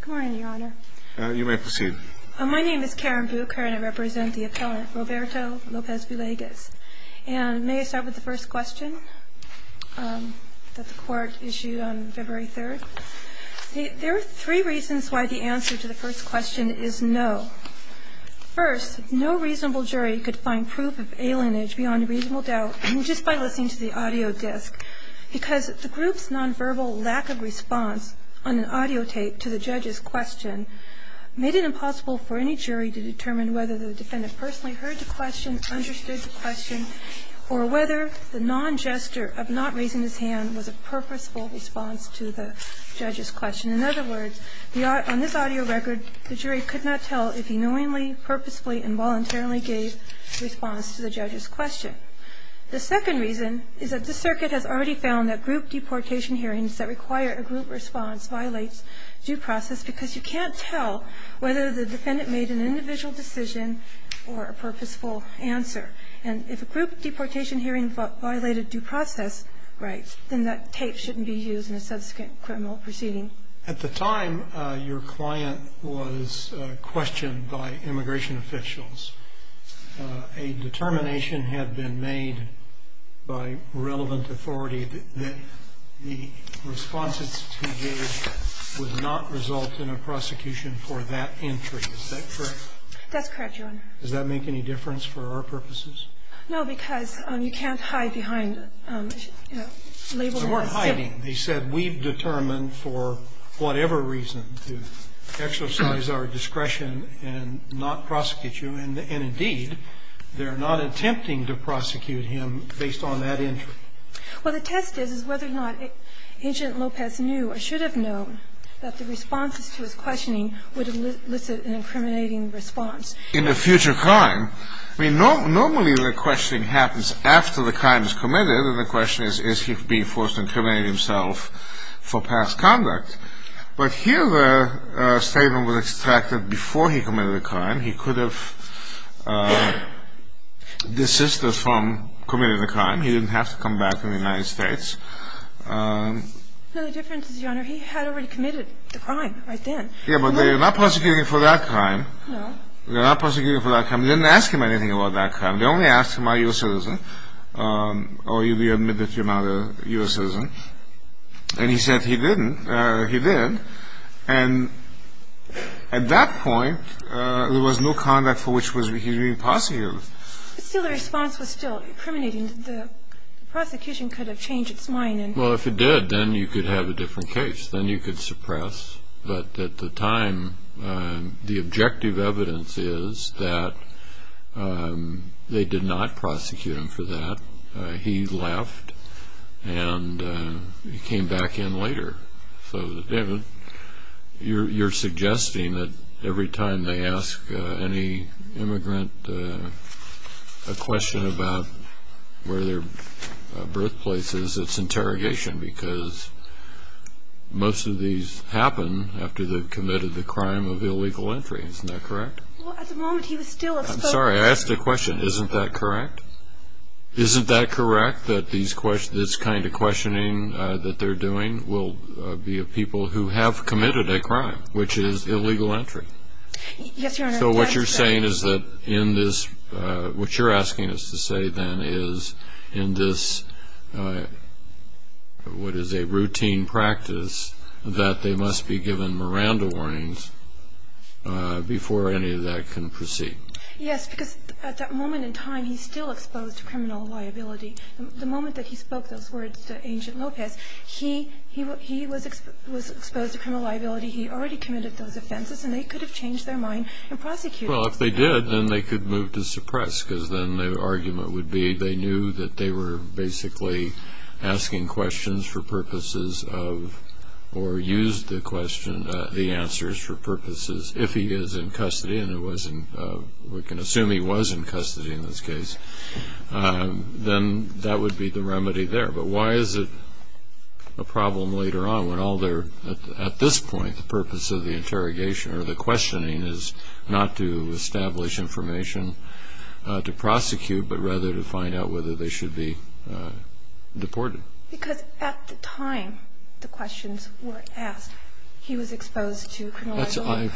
Good morning, your honor. You may proceed. My name is Karen Bucher and I represent the appellant Roberto Lopez-Villegas. And may I start with the first question that the court issued on February 3rd? There are three reasons why the answer to the first question is no. First, no reasonable jury could find proof of alienage beyond reasonable doubt just by listening to the audio disc because the group's nonverbal lack of response on an audio tape to the judge's question made it impossible for any jury to determine whether the defendant personally heard the question, understood the question, or whether the non-gesture of not raising his hand was a purposeful response to the judge's question. In other words, on this audio record, the jury could not tell if he knowingly, purposefully, and voluntarily gave response to the judge's question. The second reason is that the circuit has already found that group deportation hearings that require a group response violates due process because you can't tell whether the defendant made an individual decision or a purposeful answer. And if a group deportation hearing violated due process rights, then that tape shouldn't be used in a subsequent criminal proceeding. At the time, your client was questioned by immigration officials. A determination had been made by relevant authority that the response that he gave would not result in a prosecution for that entry. Is that correct? That's correct, Your Honor. Does that make any difference for our purposes? No, because you can't hide behind, you know, label them as... They weren't hiding. They said we've determined for whatever reason to exercise our discretion and not prosecute you. And indeed, they're not attempting to prosecute him based on that entry. Well, the test is whether or not Agent Lopez knew or should have known that the responses to his questioning would elicit an incriminating response. In a future crime, I mean, normally the questioning happens after the crime is committed and the question is, is he being forced to incriminate himself for past conduct? But here the statement was extracted before he committed the crime. He could have desisted from committing the crime. He didn't have to come back to the United States. No, the difference is, Your Honor, he had already committed the crime right then. Yeah, but they're not prosecuting for that crime. No. They're not prosecuting for that crime. They didn't ask him anything about that crime. They only asked him, are you a citizen? Or will you admit that you're not a U.S. citizen? And he said he didn't. He did. And at that point, there was no conduct for which he was being prosecuted. But still the response was still incriminating. The prosecution could have changed its mind. Well, if it did, then you could have a different case. Then you could suppress. But at the time, the objective evidence is that they did not prosecute him for that. He left, and he came back in later. So, David, you're suggesting that every time they ask any immigrant a question about where their birthplace is, it's interrogation because most of these happen after they've committed the crime of illegal entry. Isn't that correct? Well, at the moment, he was still a spokesperson. I'm sorry. I asked a question. Isn't that correct? Isn't that correct, that this kind of questioning that they're doing will be of people who have committed a crime, which is illegal entry? Yes, Your Honor. So what you're saying is that in this, what you're asking us to say then is in this, what is a routine practice, that they must be given Miranda warnings before any of that can proceed. Yes, because at that moment in time, he's still exposed to criminal liability. The moment that he spoke those words to Agent Lopez, he was exposed to criminal liability. He already committed those offenses, and they could have changed their mind. Well, if they did, then they could move to suppress because then the argument would be they knew that they were basically asking questions for purposes of or used the answers for purposes if he is in custody, and we can assume he was in custody in this case, then that would be the remedy there. But why is it a problem later on when all they're, at this point, the purpose of the interrogation or the questioning is not to establish information to prosecute, but rather to find out whether they should be deported? Because at the time the questions were asked, he was exposed to criminal liability.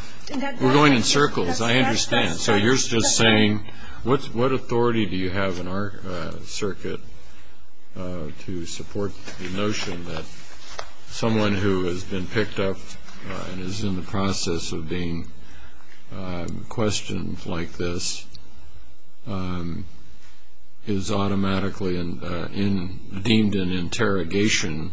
We're going in circles. I understand. So you're just saying what authority do you have in our circuit to support the notion that someone who has been picked up and is in the process of being questioned like this is automatically deemed an interrogation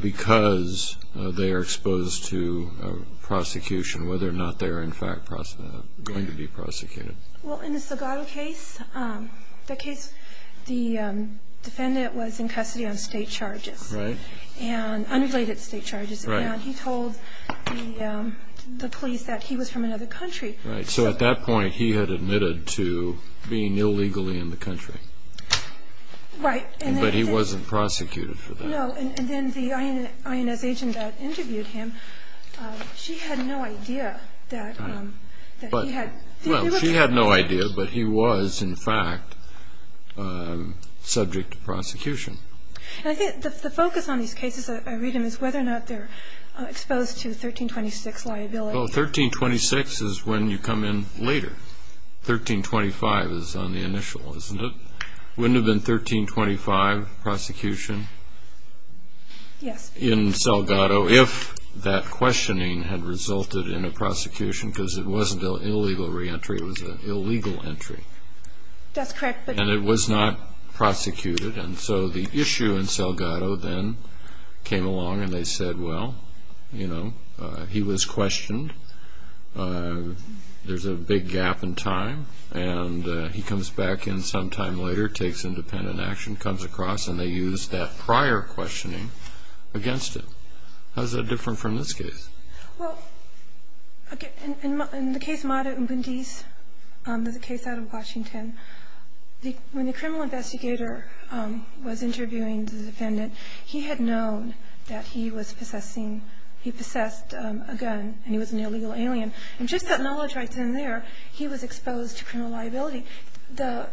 because they are exposed to prosecution, whether or not they are, in fact, going to be prosecuted? Well, in the Sagado case, the defendant was in custody on state charges. Right. And unrelated state charges. Right. And he told the police that he was from another country. Right. So at that point, he had admitted to being illegally in the country. Right. But he wasn't prosecuted for that. No. And then the INS agent that interviewed him, she had no idea that he had. Well, she had no idea, but he was, in fact, subject to prosecution. And I think the focus on these cases I read in is whether or not they're exposed to 1326 liability. Well, 1326 is when you come in later. 1325 is on the initial, isn't it? Wouldn't it have been 1325, prosecution? Yes. In Sagado, if that questioning had resulted in a prosecution, because it wasn't an illegal reentry. It was an illegal entry. That's correct. And it was not prosecuted. And so the issue in Sagado then came along and they said, well, you know, he was questioned. There's a big gap in time. And he comes back in sometime later, takes independent action, comes across, and they used that prior questioning against him. How is that different from this case? Well, again, in the case Mata Impundis, the case out of Washington, when the criminal investigator was interviewing the defendant, he had known that he was possessing he possessed a gun and he was an illegal alien. And just that knowledge right then and there, he was exposed to criminal liability. The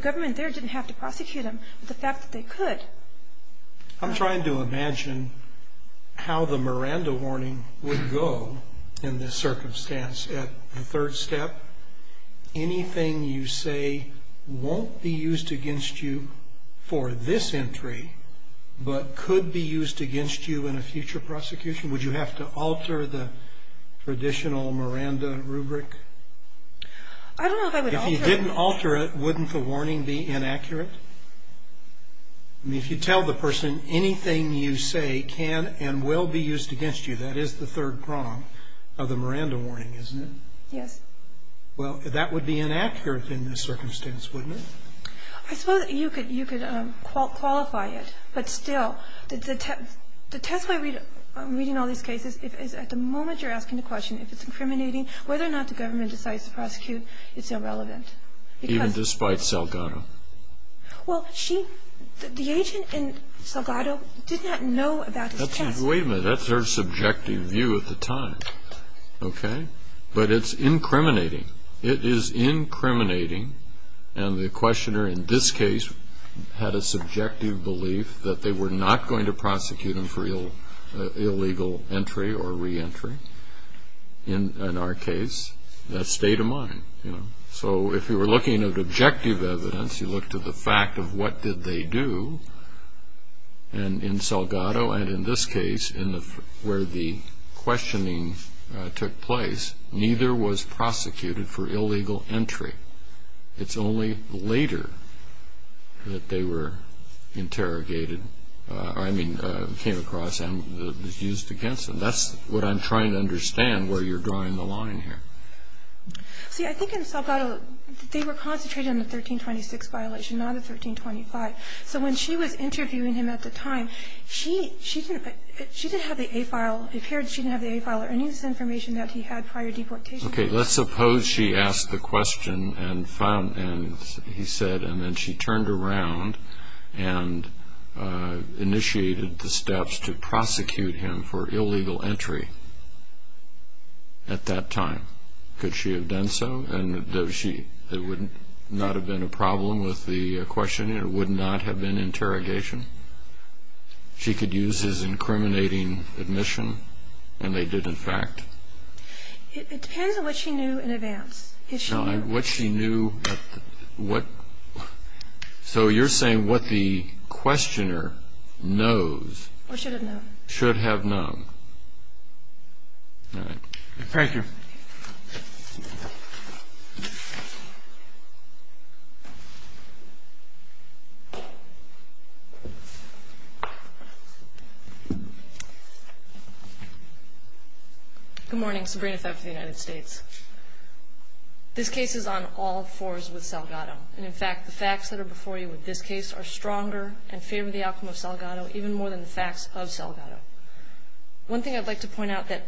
government there didn't have to prosecute him, but the fact that they could. I'm trying to imagine how the Miranda warning would go in this circumstance at the third step. Anything you say won't be used against you for this entry, but could be used against you in a future prosecution? Would you have to alter the traditional Miranda rubric? I don't know if I would alter it. If you didn't alter it, wouldn't the warning be inaccurate? I mean, if you tell the person anything you say can and will be used against you, that is the third prong of the Miranda warning, isn't it? Yes. Well, that would be inaccurate in this circumstance, wouldn't it? I suppose you could qualify it. But still, the test by reading all these cases is at the moment you're asking the question if it's incriminating, whether or not the government decides to prosecute, it's irrelevant. Even despite Salgado? Well, the agent in Salgado did not know about this test. Wait a minute, that's her subjective view at the time, okay? But it's incriminating. It is incriminating, and the questioner in this case had a subjective belief that they were not going to prosecute him for illegal entry or reentry. In our case, that stayed a mine. So if you were looking at objective evidence, you look to the fact of what did they do, and in Salgado and in this case where the questioning took place, neither was prosecuted for illegal entry. It's only later that they were interrogated, I mean, came across and was used against them. That's what I'm trying to understand where you're drawing the line here. See, I think in Salgado they were concentrated on the 1326 violation, not the 1325. So when she was interviewing him at the time, she didn't have the A file. It appeared she didn't have the A file or any of this information that he had prior deportation. Okay, let's suppose she asked the question and he said, and then she turned around and initiated the steps to prosecute him for illegal entry at that time. Could she have done so? It would not have been a problem with the questioning. It would not have been interrogation. She could use his incriminating admission, and they did, in fact. It depends on what she knew in advance. So you're saying what the questioner knows should have known. Thank you. Good morning. I'm Sabrina Feb from the United States. This case is on all fours with Salgado. And, in fact, the facts that are before you with this case are stronger and favor the outcome of Salgado even more than the facts of Salgado. One thing I'd like to point out that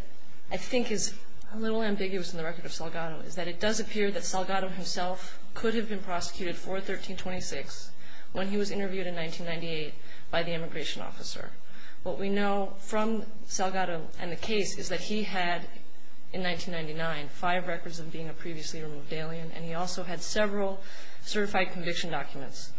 I think is a little ambiguous in the record of Salgado is that it does appear that Salgado himself could have been prosecuted for 1326 when he was interviewed in 1998 by the immigration officer. What we know from Salgado and the case is that he had, in 1999, five records of being a previously removed alien, and he also had several certified conviction documents.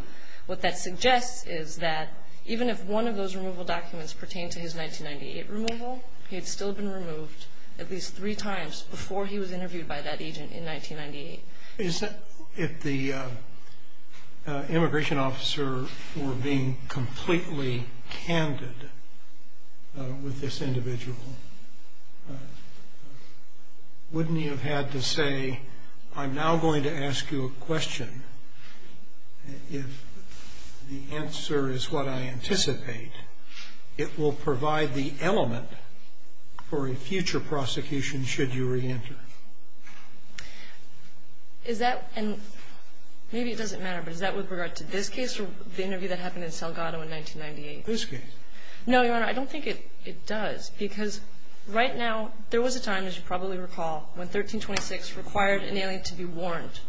What that suggests is that even if one of those removal documents pertained to his 1998 removal, he had still been removed at least three times before he was interviewed by that agent in 1998. If the immigration officer were being completely candid with this individual, wouldn't he have had to say, I'm now going to ask you a question if the answer is what I anticipate? It will provide the element for a future prosecution should you reenter. Is that an – maybe it doesn't matter, but is that with regard to this case or the interview that happened in Salgado in 1998? This case. No, Your Honor. I don't think it does, because right now there was a time, as you probably recall, when 1326 required an alien to be warned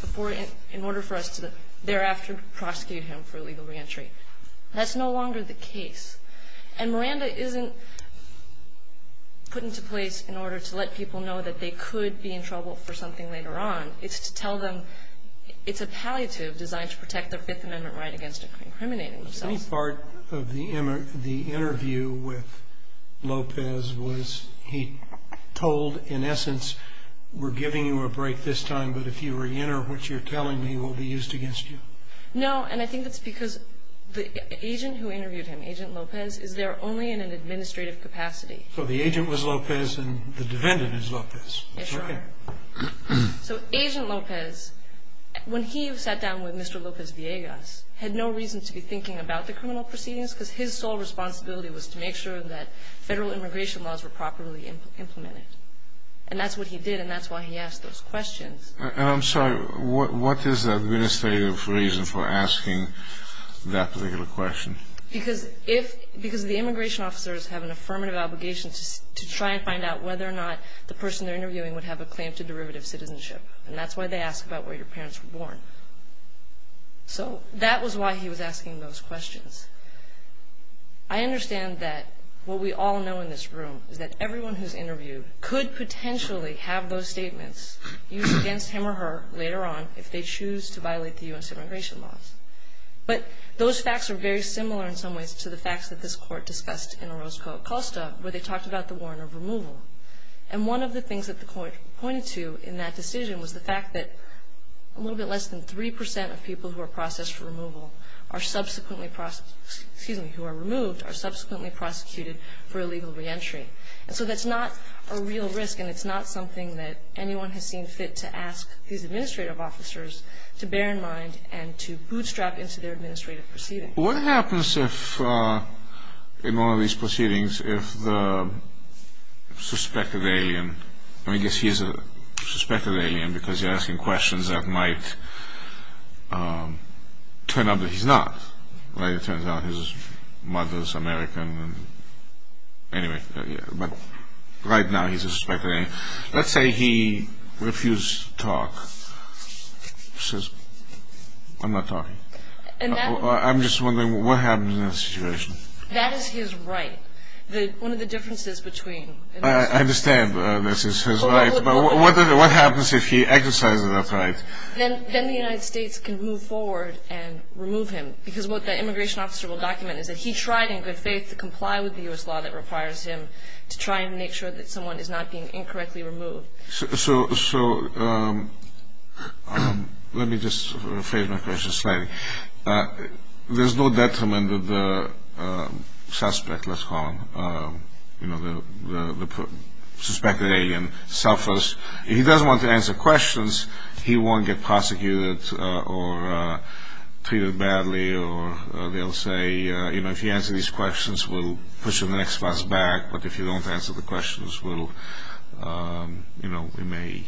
before – in order for us to thereafter prosecute him for illegal reentry. That's no longer the case. And Miranda isn't put into place in order to let people know that they could be in trouble for something later on. It's to tell them it's a palliative designed to protect their Fifth Amendment right against incriminating themselves. Any part of the interview with Lopez was he told, in essence, we're giving you a break this time, but if you reenter, what you're telling me will be used against you. No, and I think that's because the agent who interviewed him, Agent Lopez, is there only in an administrative capacity. So the agent was Lopez and the defendant is Lopez. Yes, Your Honor. Okay. So Agent Lopez, when he sat down with Mr. Lopez-Villegas, had no reason to be thinking about the criminal proceedings, because his sole responsibility was to make sure that federal immigration laws were properly implemented. And that's what he did, and that's why he asked those questions. And I'm sorry, what is the administrative reason for asking that particular question? Because the immigration officers have an affirmative obligation to try and find out whether or not the person they're interviewing would have a claim to derivative citizenship, and that's why they ask about where your parents were born. So that was why he was asking those questions. I understand that what we all know in this room is that everyone who's interviewed could potentially have those statements used against him or her later on if they choose to violate the U.S. immigration laws. But those facts are very similar in some ways to the facts that this Court discussed in Orozco-Acosta, where they talked about the warrant of removal. And one of the things that the Court pointed to in that decision was the fact that a little bit less than 3% of people who are processed for removal are subsequently prosecuted for illegal reentry. And so that's not a real risk, and it's not something that anyone has seen fit to ask these administrative officers to bear in mind and to bootstrap into their administrative proceedings. What happens if, in one of these proceedings, if the suspected alien, I guess he is a suspected alien because you're asking questions that might turn up that he's not. It turns out his mother is American. Anyway, but right now he's a suspected alien. Let's say he refused to talk. He says, I'm not talking. I'm just wondering what happens in that situation. That is his right. One of the differences between... I understand this is his right, but what happens if he exercises that right? Then the United States can move forward and remove him because what the immigration officer will document is that he tried in good faith to comply with the U.S. law that requires him to try and make sure that someone is not being incorrectly removed. So let me just rephrase my question slightly. There's no detriment that the suspect, let's call him, the suspected alien, suffers. If he doesn't want to answer questions, he won't get prosecuted or treated badly or they'll say, you know, if you answer these questions, we'll push him the next bus back. But if you don't answer the questions, we'll, you know, we may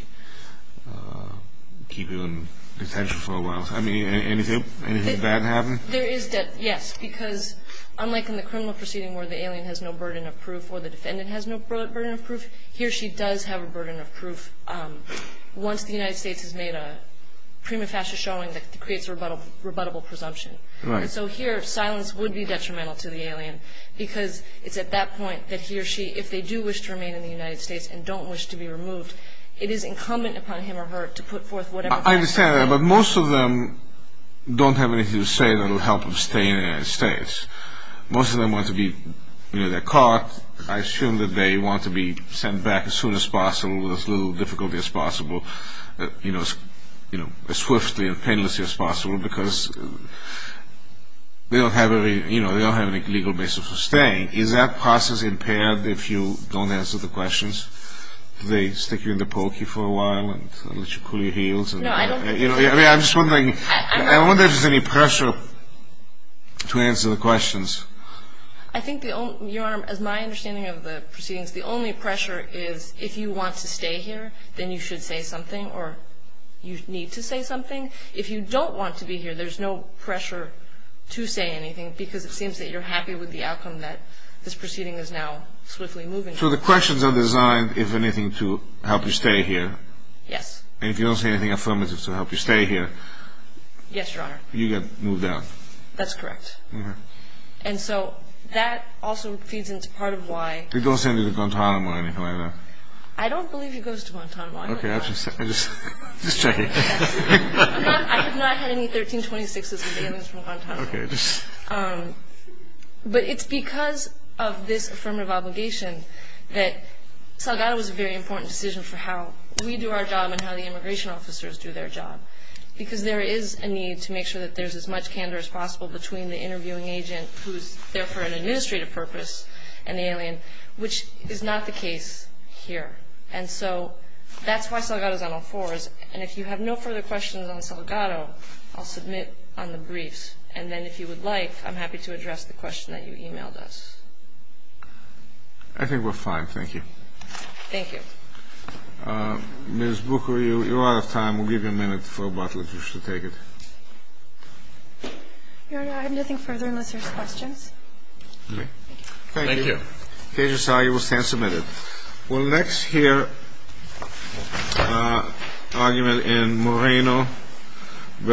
keep you in detention for a while. I mean, anything bad happen? There is, yes, because unlike in the criminal proceeding where the alien has no burden of proof before the defendant has no burden of proof, he or she does have a burden of proof once the United States has made a prima facie showing that creates a rebuttable presumption. And so here silence would be detrimental to the alien because it's at that point that he or she, if they do wish to remain in the United States and don't wish to be removed, it is incumbent upon him or her to put forth whatever... I understand that, but most of them don't have anything to say that will help them stay in the United States. Most of them want to be, you know, they're caught. I assume that they want to be sent back as soon as possible with as little difficulty as possible, you know, as swiftly and painlessly as possible because they don't have any legal basis for staying. Is that process impaired if you don't answer the questions? Do they stick you in the pokey for a while and let you cool your heels? I wonder if there's any pressure to answer the questions. I think, Your Honor, as my understanding of the proceedings, the only pressure is if you want to stay here, then you should say something or you need to say something. If you don't want to be here, there's no pressure to say anything because it seems that you're happy with the outcome that this proceeding is now swiftly moving forward. So the questions are designed, if anything, to help you stay here. Yes. And if you don't say anything affirmative to help you stay here? Yes, Your Honor. You get moved out. That's correct. And so that also feeds into part of why— They don't send you to Guantanamo or anything like that? I don't believe he goes to Guantanamo. Okay, I just—just checking. I have not had any 1326s or anything from Guantanamo. Okay, just— But it's because of this affirmative obligation that Salgado was a very important decision for how we do our job and how the immigration officers do their job because there is a need to make sure that there's as much candor as possible between the interviewing agent who's there for an administrative purpose and the alien, which is not the case here. And so that's why Salgado's on all fours. And if you have no further questions on Salgado, I'll submit on the briefs. And then if you would like, I'm happy to address the question that you emailed us. I think we're fine. Thank you. Thank you. Ms. Booker, you're out of time. We'll give you a minute for a bottle if you should take it. Your Honor, I have nothing further unless there's questions. Okay. Thank you. Thank you. The case is signed. You will stand submitted. We'll next hear an argument in Moreno v. Estruz.